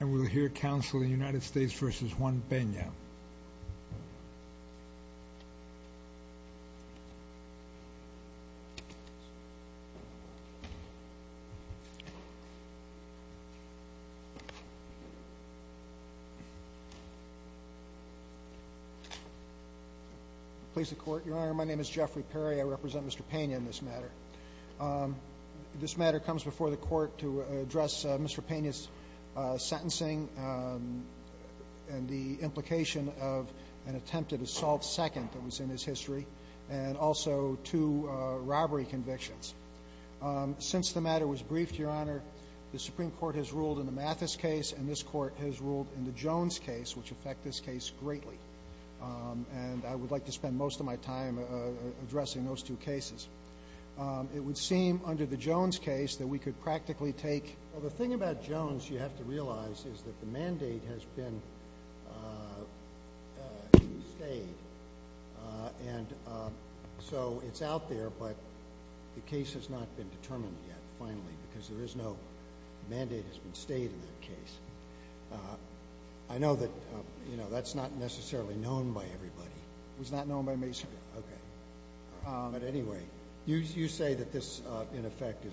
I will hear counsel in United States v. Juan Pena. Please the court, your honor, my name is Jeffrey Perry. I represent Mr. Pena in this matter. This matter comes before the court to address Mr. Pena's sentencing and the implication of an attempted assault second that was in his history, and also two robbery convictions. Since the matter was briefed, your honor, the Supreme Court has ruled in the Mathis case and this court has ruled in the Jones case, which affect this case greatly. And I would like to spend most of my time addressing those two cases. It would seem under the Jones case that we could practically take Well, the thing about Jones, you have to realize, is that the mandate has been stayed. And so it's out there, but the case has not been determined yet, finally, because there is no mandate has been stayed in that case. I know that, you know, that's not necessarily known by everybody. It was not known by me, sir. But anyway, you say that this, in effect,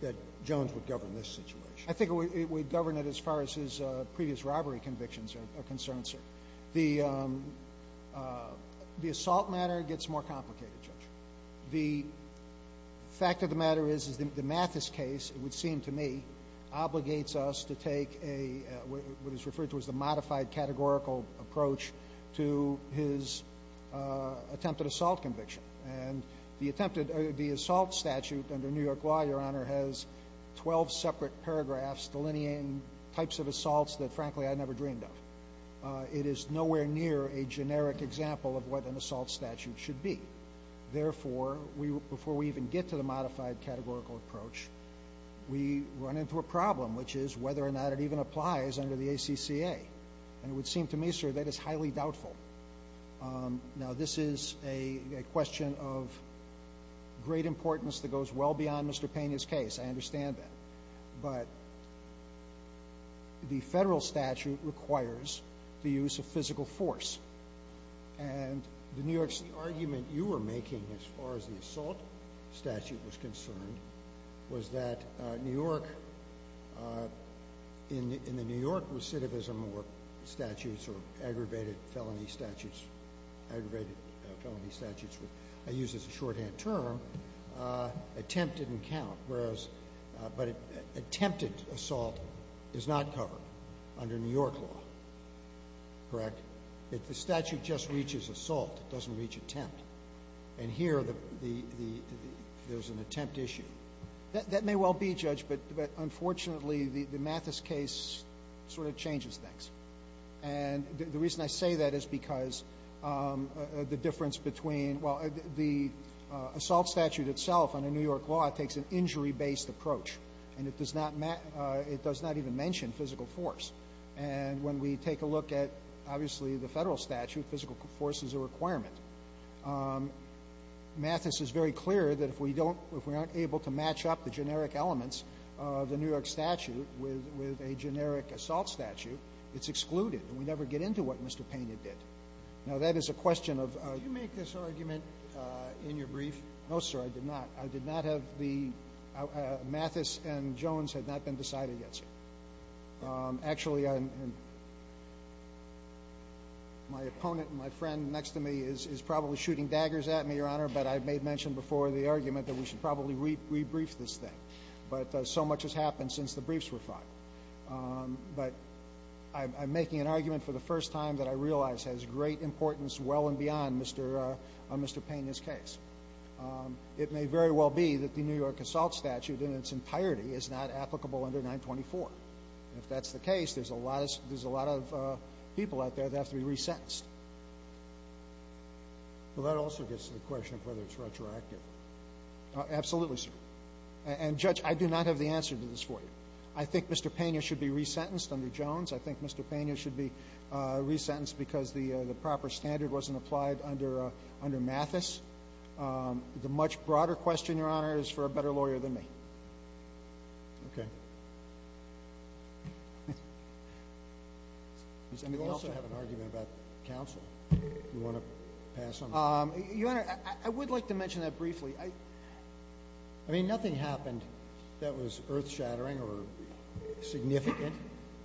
that Jones would govern this situation. I think he would govern it as far as his previous robbery convictions are concerned, sir. The assault matter gets more complicated, Judge. The fact of the matter is that the Mathis case, it would seem to me, obligates us to the modified categorical approach to his attempted assault conviction. And the attempted, the assault statute under New York law, your honor, has 12 separate paragraphs delineating types of assaults that, frankly, I never dreamed of. It is nowhere near a generic example of what an assault statute should be. Therefore, before we even get to the modified categorical approach, we run into a problem, which is whether or not it even applies under the ACCA. And it would seem to me, sir, that is highly doubtful. Now, this is a question of great importance that goes well beyond Mr. Pena's case. I understand that. But the federal statute requires the use of physical force. And the New York City argument you were making, as far as the assault statute was concerned, was that New York, in the New York recidivism or statutes or aggravated felony statutes, aggravated felony statutes, I use this as a shorthand term, attempt didn't count. But attempted assault is not covered under New York law, correct? If the statute just reaches assault, it doesn't reach attempt. And here, there's an attempt issue. That may well be, Judge, but unfortunately, the Mathis case sort of changes things. And the reason I say that is because the difference between, well, the assault statute itself under New York law takes an injury-based approach. And it does not even mention physical force. And when we take a look at, obviously, the federal statute, physical force is a requirement. Mathis is very clear that if we don't, if we aren't able to match up the generic elements of the New York statute with a generic assault statute, it's excluded. And we never get into what Mr. Pena did. Now, that is a question of- Did you make this argument in your brief? No, sir, I did not. I did not have the, Mathis and Jones had not been decided yet, sir. Actually, my opponent and my friend next to me is probably shooting daggers at me, Your Honor, but I made mention before the argument that we should probably re-brief this thing. But so much has happened since the briefs were filed. But I'm making an argument for the first time that I realize has great importance well and beyond Mr. Pena's case. It may very well be that the New York assault statute in its entirety is not applicable under 924. If that's the case, there's a lot of people out there that have to be resentenced. Well, that also gets to the question of whether it's retroactive. Absolutely, sir. And, Judge, I do not have the answer to this for you. I think Mr. Pena should be resentenced under Jones. I think Mr. Pena should be resentenced because the proper standard wasn't applied under Mathis. The much broader question, Your Honor, is for a better lawyer than me. Okay. You also have an argument about counsel. Do you want to pass on that? Your Honor, I would like to mention that briefly. I mean, nothing happened that was earth-shattering or significant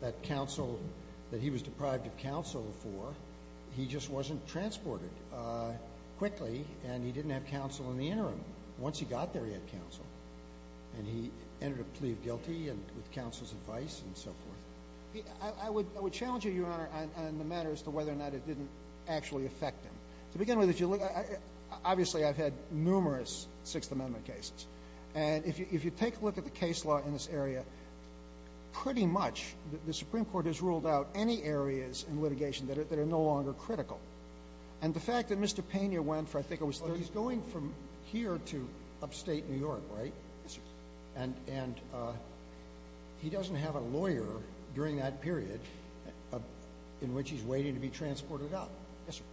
that counsel, that he was deprived of counsel for. He just wasn't transported quickly, and he didn't have counsel in the interim. Once he got there, he had counsel. And he ended up pleading guilty with counsel's advice and so forth. I would challenge you, Your Honor, on the matter as to whether or not it didn't actually affect him. To begin with, obviously I've had numerous Sixth Amendment cases. And if you take a look at the case law in this area, pretty much the Supreme Court has ruled out any areas in litigation that are no longer critical. And the fact that Mr. Pena went for, I think it was 30 years. Well, he's going from here to upstate New York, right? Yes, sir. And he doesn't have a lawyer during that period in which he's waiting to be transported up. Yes, sir.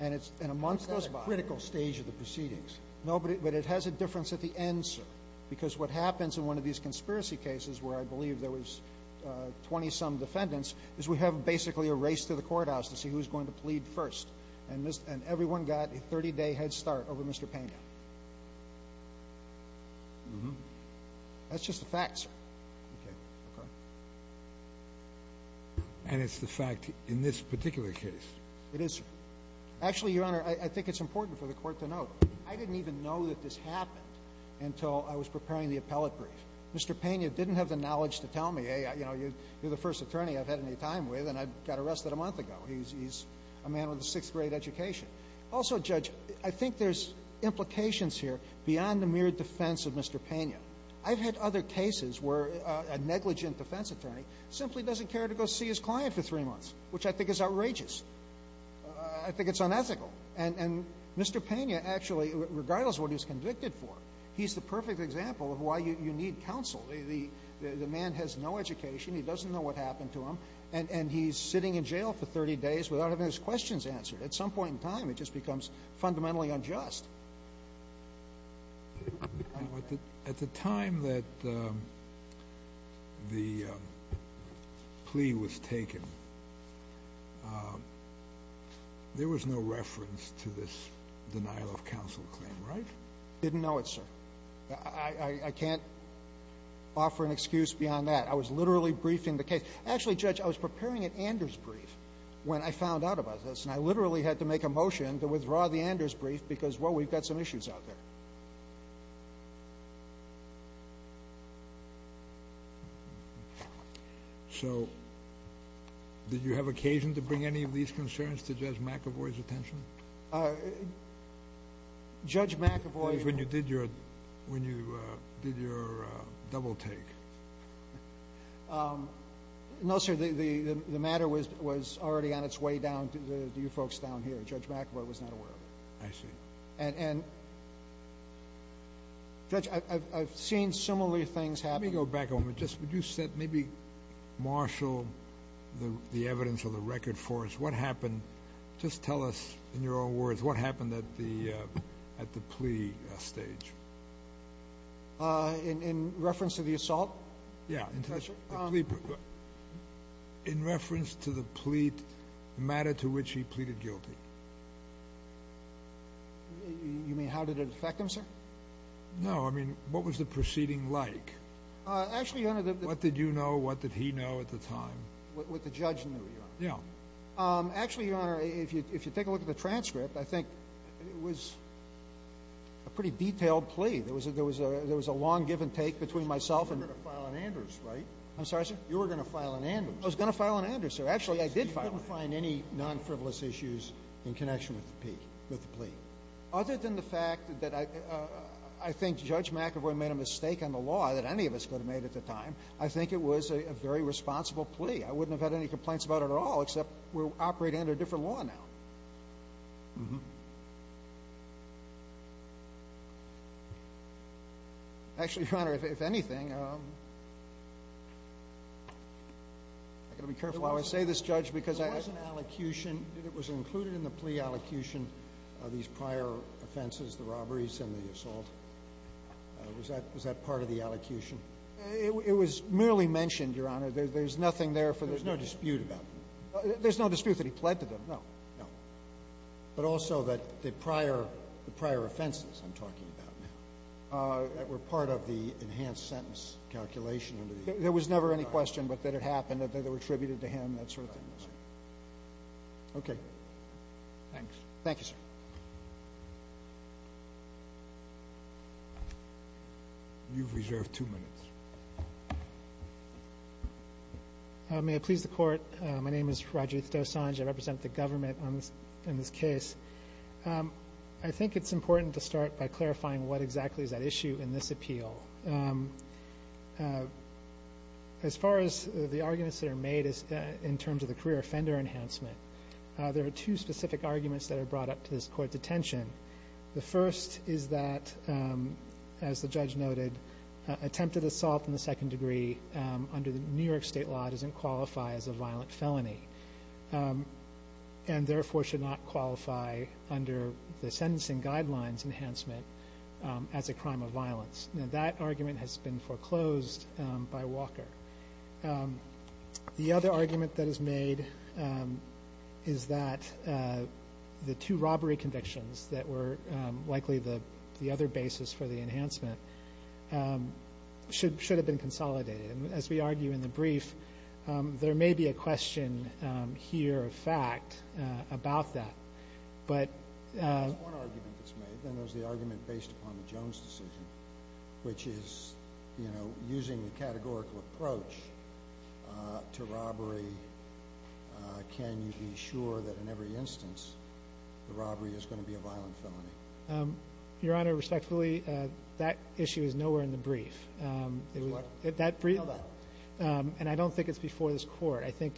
And it's in a much less critical stage of the proceedings. No, but it has a difference at the end, sir. Because what happens in one of these conspiracy cases where I believe there was 20-some defendants, is we have basically a race to the courthouse to see who's going to plead first. And everyone got a 30-day head start over Mr. Pena. That's just a fact, sir. And it's the fact in this particular case. It is, sir. Actually, Your Honor, I think it's important for the Court to note, I didn't even know that this happened until I was preparing the appellate brief. Mr. Pena didn't have the knowledge to tell me, hey, you're the first attorney I've had any time with and I got arrested a month ago. He's a man with a sixth-grade education. Also, Judge, I think there's implications here beyond the mere defense of Mr. Pena. I've had other cases where a negligent defense attorney simply doesn't care to go see his client for three months, which I think is outrageous. I think it's unethical. And Mr. Pena, actually, regardless of what he's convicted for, he's the perfect example of why you need counsel. The man has no education, he doesn't know what happened to him, and he's sitting in jail for 30 days without having his questions answered. At some point in time, it just becomes fundamentally unjust. At the time that the plea was taken, there was no reference to this denial of counsel claim, right? Didn't know it, sir. I can't offer an excuse beyond that. I was literally briefing the case. Actually, Judge, I was preparing an Anders brief when I found out about this, and I literally had to make a motion to withdraw the Anders brief because, well, we've got some issues out there. So, did you have occasion to bring any of these concerns to Judge McAvoy's attention? Judge McAvoy... When you did your double take. No, sir. The matter was already on its way down to you folks down here. Judge McAvoy was not aware of it. I see. And, Judge, I've seen similarly things happen. Let me go back a moment. Would you maybe marshal the evidence or the record for us? What happened? Just tell us in your own words. What happened at the plea stage? In reference to the assault? Yeah. In reference to the plea, the matter to which he pleaded guilty. You mean how did it affect him, sir? No, I mean what was the proceeding like? Actually, Your Honor. What did you know? What did he know at the time? What the judge knew, Your Honor. Yeah. Actually, Your Honor, if you take a look at the transcript, I think it was a pretty detailed plea. There was a long give and take between myself and... I'm sorry, sir? You were going to file an amnesty. I was going to file an amnesty, sir. Actually, I did file an amnesty. You couldn't find any non-frivolous issues in connection with the plea? Other than the fact that I think Judge McAvoy made a mistake on the law that any of us could have made at the time, I think it was a very responsible plea. I wouldn't have had any complaints about it at all except we're operating under a different law now. Mm-hmm. Actually, Your Honor, if anything, I've got to be careful how I say this, Judge, because I... There was an allocution. It was included in the plea allocution, these prior offenses, the robberies and the assault. Was that part of the allocution? It was merely mentioned, Your Honor. There's nothing there for the... There's no dispute about it? There's no dispute that he pled to them, no. No. But also that the prior offenses I'm talking about were part of the enhanced sentence calculation under the... There was never any question but that it happened, that they were attributed to him, that sort of thing. Okay. Thanks. Thank you, sir. You've reserved two minutes. May it please the Court, my name is Rajiv Dosanjh. I represent the government in this case. I think it's important to start by clarifying what exactly is at issue in this appeal. As far as the arguments that are made in terms of the career offender enhancement, there are two specific arguments that are brought up to this Court's attention. The first is that, as the judge noted, attempted assault in the second degree under the New York State law doesn't qualify as a violent felony and therefore should not qualify under the sentencing guidelines enhancement as a crime of violence. Now that argument has been foreclosed by Walker. The other argument that is made is that the two robbery convictions that were likely the other basis for the enhancement should have been consolidated. And as we argue in the brief, there may be a question here of fact about that. But... There's one argument that's made, and that's the argument based upon the Jones decision, which is, you know, using the categorical approach to robbery, can you be sure that in every instance the robbery is going to be a violent felony? Your Honor, respectfully, that issue is nowhere in the brief. Tell that. And I don't think it's before this Court. I think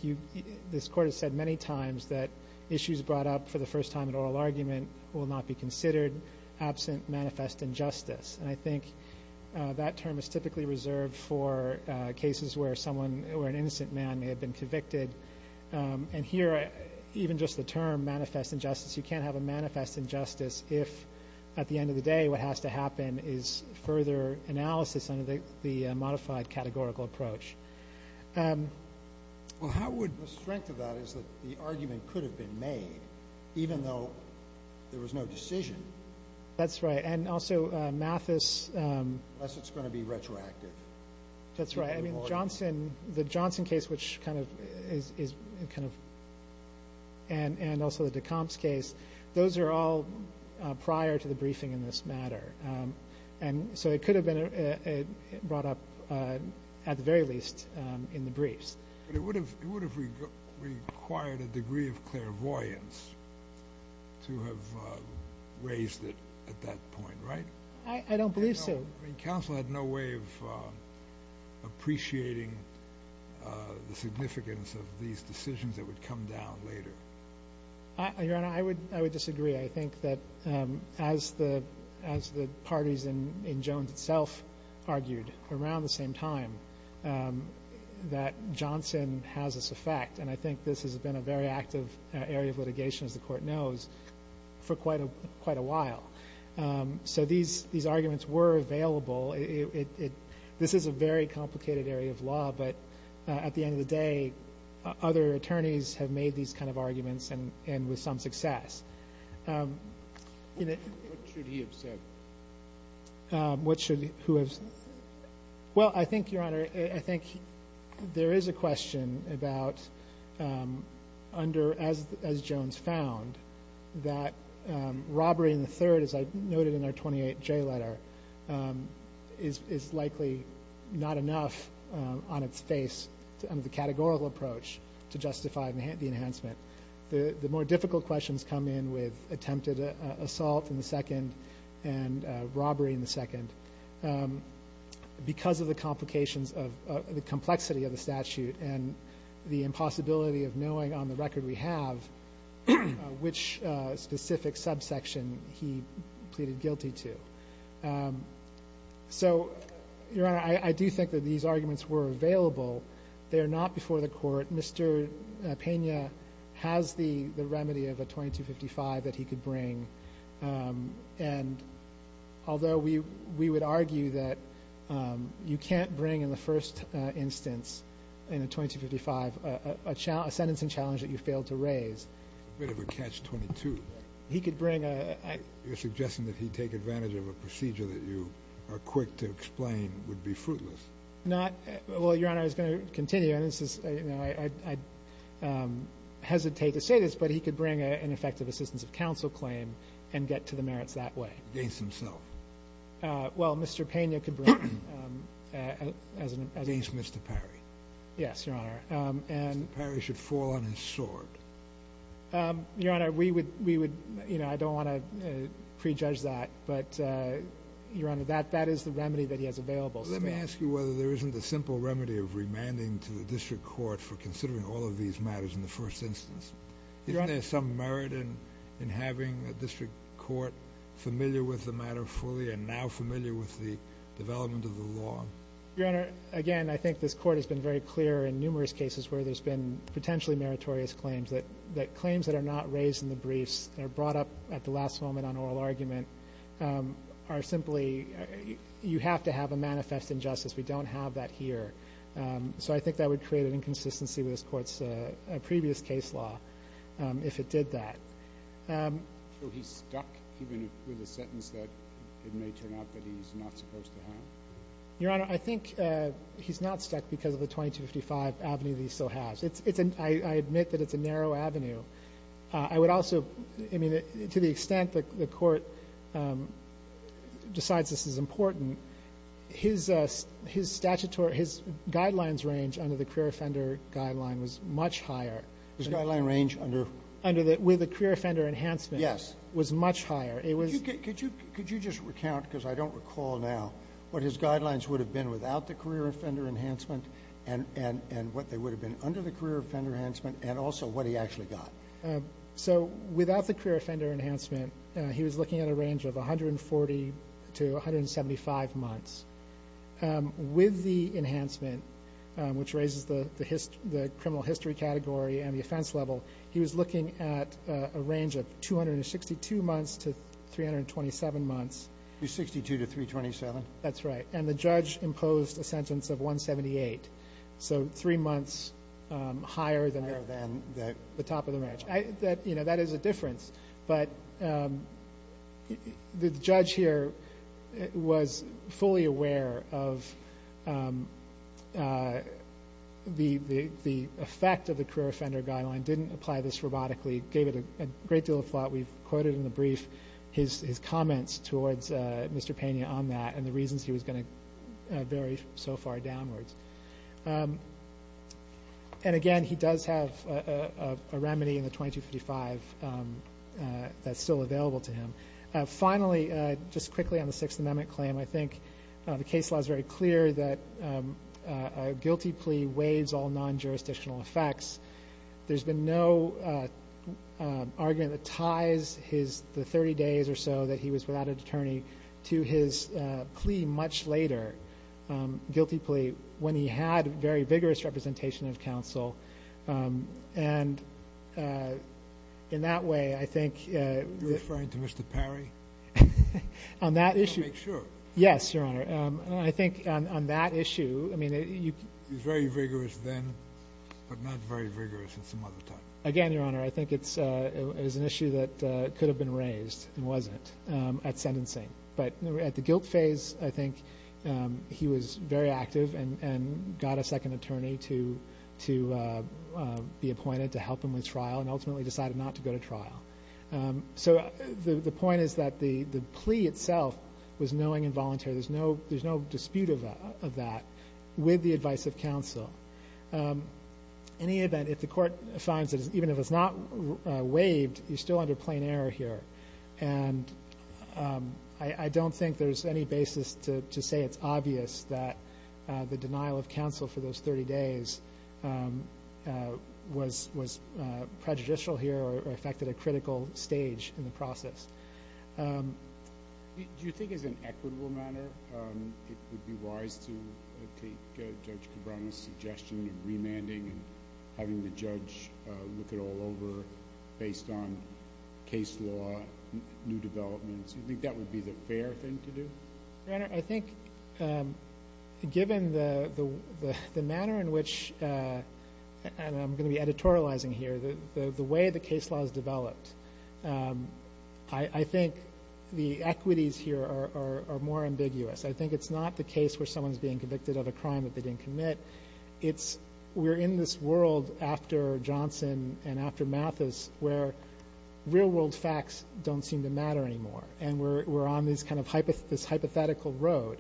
this Court has said many times that issues brought up for the first time in oral argument will not be considered absent manifest injustice. And I think that term is typically reserved for cases where an innocent man may have been convicted. And here, even just the term manifest injustice, you can't have a manifest injustice if at the end of the day what has to happen is further analysis under the modified categorical approach. Well, how would... The strength of that is that the argument could have been made, even though there was no decision. That's right. And also Mathis... Unless it's going to be retroactive. That's right. I mean, the Johnson case, which kind of is kind of... And also the Decomps case. Those are all prior to the briefing in this matter. And so it could have been brought up, at the very least, in the briefs. But it would have required a degree of clairvoyance to have raised it at that point, right? I don't believe so. I mean, counsel had no way of appreciating the significance of these decisions that would come down later. Your Honor, I would disagree. I think that as the parties in Jones itself argued around the same time that Johnson has this effect, and I think this has been a very active area of litigation, as the Court knows, for quite a while. So these arguments were available. This is a very complicated area of law, but at the end of the day other attorneys have made these kind of arguments and with some success. What should he have said? Well, I think, Your Honor, I think there is a question about under, as Jones found, that robbery in the third, as I noted in our 28J letter, is likely not enough on its face under the categorical approach to justify the enhancement. The more difficult questions come in with attempted assault in the second and robbery in the second. Because of the complications of the complexity of the statute and the impossibility of knowing on the record we have which specific subsection he pleaded guilty to. So, Your Honor, I do think that these arguments were available. They are not before the Court. Mr. Pena has the remedy of a 2255 that he could bring. And although we would argue that you can't bring in the first instance, in a 2255, a sentence and challenge that you failed to raise. A bit of a catch-22. He could bring a... You're suggesting that he'd take advantage of a procedure that you are quick to explain would be fruitless. Not, well, Your Honor, I was going to continue. I hesitate to say this, but he could bring an effective assistance of counsel claim and get to the merits that way. Against himself. Well, Mr. Pena could bring... Against Mr. Perry. Yes, Your Honor. Mr. Perry should fall on his sword. Your Honor, we would, you know, I don't want to prejudge that. But, Your Honor, that is the remedy that he has available. Let me ask you whether there isn't a simple remedy of remanding to the District Court for considering all of these matters in the first instance. Isn't there some merit in having a District Court familiar with the matter fully and now familiar with the development of the law? Your Honor, again, I think this Court has been very clear in numerous cases where there's been potentially meritorious claims that claims that are not raised in the briefs and are brought up at the last moment on oral argument are simply, you have to have a manifest injustice. We don't have that here. So I think that would create an inconsistency with this Court's previous case law if it did that. So he's stuck even with a sentence that it may turn out that he's not supposed to have? Your Honor, I think he's not stuck because of the 2255 avenue that he still has. I admit that it's a narrow avenue. I would also, I mean, to the extent that the Court decides this is important, his statutory, his guidelines range under the career offender guideline was much higher. His guideline range under? Under the career offender enhancement. Yes. It was much higher. Could you just recount, because I don't recall now, what his guidelines would have been without the career offender enhancement and what they would have been under the career offender enhancement and also what he actually got? So without the career offender enhancement, he was looking at a range of 140 to 175 months. With the enhancement, which raises the criminal history category and the offense level, he was looking at a range of 262 months to 327 months. 262 to 327? That's right. And the judge imposed a sentence of 178, so three months higher than the top of the range. That is a difference, but the judge here was fully aware of the effect of the career offender guideline, didn't apply this robotically, gave it a great deal of thought. We've quoted in the brief his comments towards Mr. Pena on that and the reasons he was going to vary so far downwards. And, again, he does have a remedy in the 2255 that's still available to him. Finally, just quickly on the Sixth Amendment claim, I think the case law is very clear that a guilty plea waives all non-jurisdictional effects. There's been no argument that ties the 30 days or so that he was without an attorney to his plea much later, guilty plea, when he had very vigorous representation of counsel. And in that way, I think you're referring to Mr. Perry? On that issue. I want to make sure. Yes, Your Honor. He was very vigorous then, but not very vigorous in some other time. Again, Your Honor, I think it's an issue that could have been raised and wasn't at sentencing. But at the guilt phase, I think he was very active and got a second attorney to be appointed to help him with trial and ultimately decided not to go to trial. So the point is that the plea itself was knowing and voluntary. There's no dispute of that with the advice of counsel. In any event, if the court finds that even if it's not waived, you're still under plain error here. And I don't think there's any basis to say it's obvious that the denial of counsel for those 30 days was prejudicial here or affected a critical stage in the process. Do you think as an equitable matter it would be wise to take Judge Cabrera's suggestion of remanding and having the judge look it all over based on case law, new developments? Do you think that would be the fair thing to do? Your Honor, I think given the manner in which, and I'm going to be editorializing here, the way the case law is developed, I think the equities here are more ambiguous. I think it's not the case where someone's being convicted of a crime that they didn't commit. It's we're in this world after Johnson and after Mathis where real-world facts don't seem to matter anymore, and we're on this kind of hypothetical road.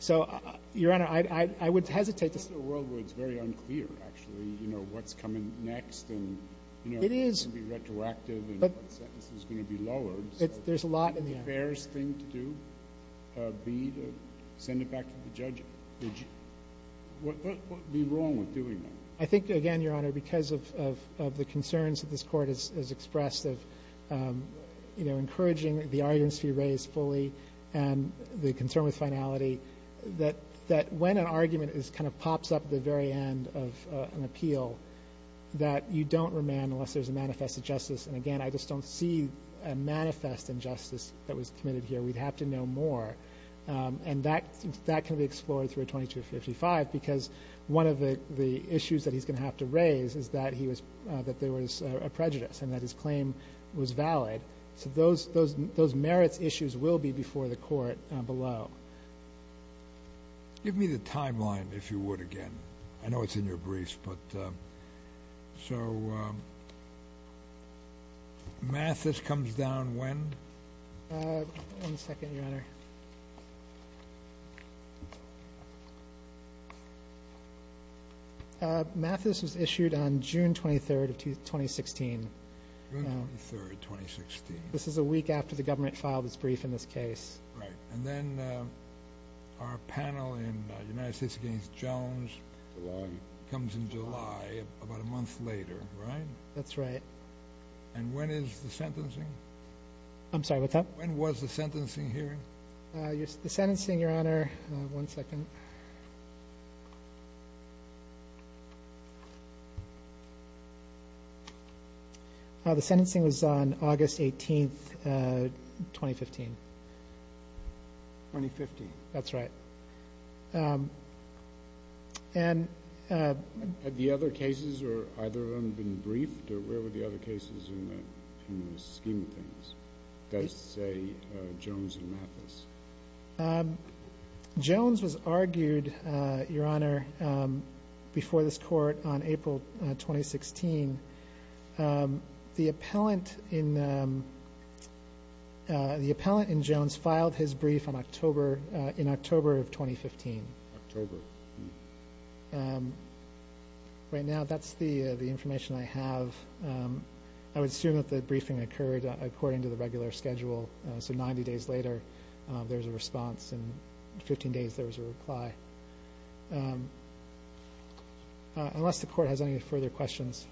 So, Your Honor, I would hesitate to say. The rest of the world is very unclear, actually, you know, what's coming next and, you know, what's going to be retroactive and what sentence is going to be lowered. There's a lot in the air. So wouldn't the fairest thing to do be to send it back to the judge? What would be wrong with doing that? I think, again, Your Honor, because of the concerns that this Court has expressed of, you know, encouraging the arguments to be raised fully and the concern with finality, that when an argument is kind of pops up at the very end of an appeal, that you don't remand unless there's a manifest injustice. And, again, I just don't see a manifest injustice that was committed here. We'd have to know more. And that can be explored through a 2255, because one of the issues that he's going to have to raise is that there was a prejudice and that his claim was valid. So those merits issues will be before the Court below. Give me the timeline, if you would, again. I know it's in your briefs, but so Mathis comes down when? One second, Your Honor. Mathis was issued on June 23rd of 2016. June 23rd, 2016. This is a week after the government filed its brief in this case. Right. And then our panel in United States against Jones comes in July, about a month later, right? That's right. And when is the sentencing? I'm sorry, what's that? When was the sentencing here? The sentencing, Your Honor. One second. The sentencing was on August 18th, 2015. 2015. That's right. Had the other cases or either of them been briefed? Where were the other cases in the scheme of things? Does it say Jones and Mathis? Jones was argued, Your Honor, before this Court on April 2016. The appellant in Jones filed his brief in October of 2015. October. Right now, that's the information I have. I would assume that the briefing occurred according to the regular schedule. So 90 days later, there's a response. In 15 days, there was a reply. Unless the Court has any further questions.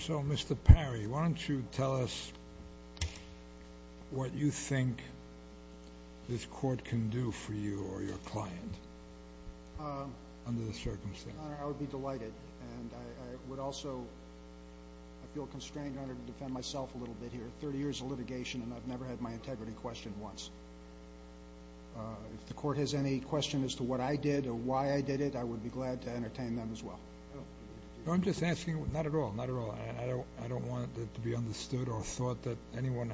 So, Mr. Perry, why don't you tell us what you think this Court can do for you or your client under the circumstances? Your Honor, I would be delighted. And I would also feel constrained, Your Honor, to defend myself a little bit here. Thirty years of litigation, and I've never had my integrity questioned once. If the Court has any question as to what I did or why I did it, I would be glad to entertain them as well. No, I'm just asking. Not at all, not at all. I don't want it to be understood or thought that anyone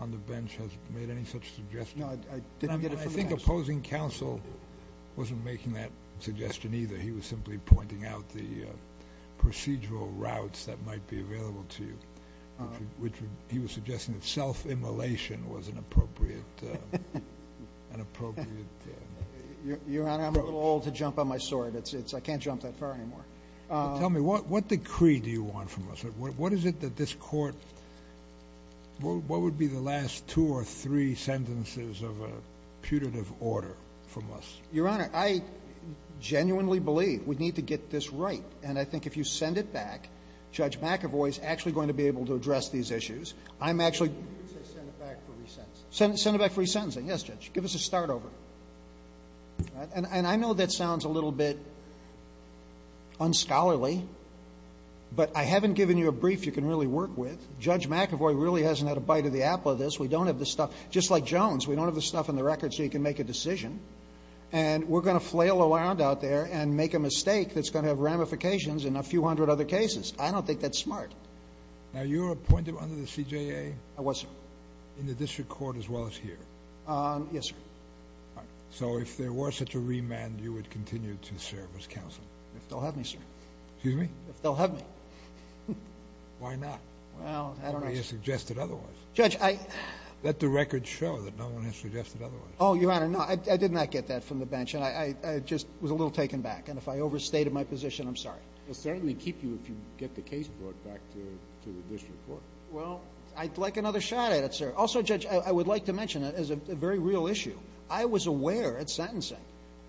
on the bench has made any such suggestion. No, I didn't get it from the Counsel. I think opposing Counsel wasn't making that suggestion either. He was simply pointing out the procedural routes that might be available to you, which he was suggesting that self-immolation was an appropriate, an appropriate. Your Honor, I'm a little old to jump on my sword. I can't jump that far anymore. Tell me, what decree do you want from us? What is it that this Court, what would be the last two or three sentences of a putative order from us? Your Honor, I genuinely believe we need to get this right. And I think if you send it back, Judge McAvoy is actually going to be able to address these issues. I'm actually going to be able to address these issues. You didn't say send it back for resentencing. Send it back for resentencing. Yes, Judge. Give us a start over. And I know that sounds a little bit unscholarly, but I haven't given you a brief you can really work with. Judge McAvoy really hasn't had a bite of the apple of this. We don't have the stuff. And we're going to flail around out there and make a mistake that's going to have ramifications in a few hundred other cases. I don't think that's smart. Now, you were appointed under the CJA? I was, sir. In the district court as well as here? Yes, sir. All right. So if there were such a remand, you would continue to serve as counsel? If they'll have me, sir. Excuse me? If they'll have me. Why not? Well, I don't know, sir. Nobody has suggested otherwise. Judge, I Let the record show that no one has suggested otherwise. Oh, Your Honor, no. I did not get that from the bench. And I just was a little taken back. And if I overstated my position, I'm sorry. We'll certainly keep you if you get the case brought back to the district court. Well, I'd like another shot at it, sir. Also, Judge, I would like to mention, as a very real issue, I was aware at sentencing.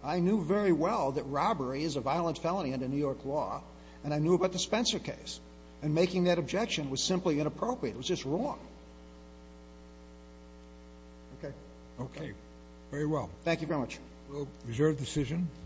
I knew very well that robbery is a violent felony under New York law. And I knew about the Spencer case. And making that objection was simply inappropriate. It was just wrong. Okay. Okay. Very well. Thank you very much. We'll reserve decision.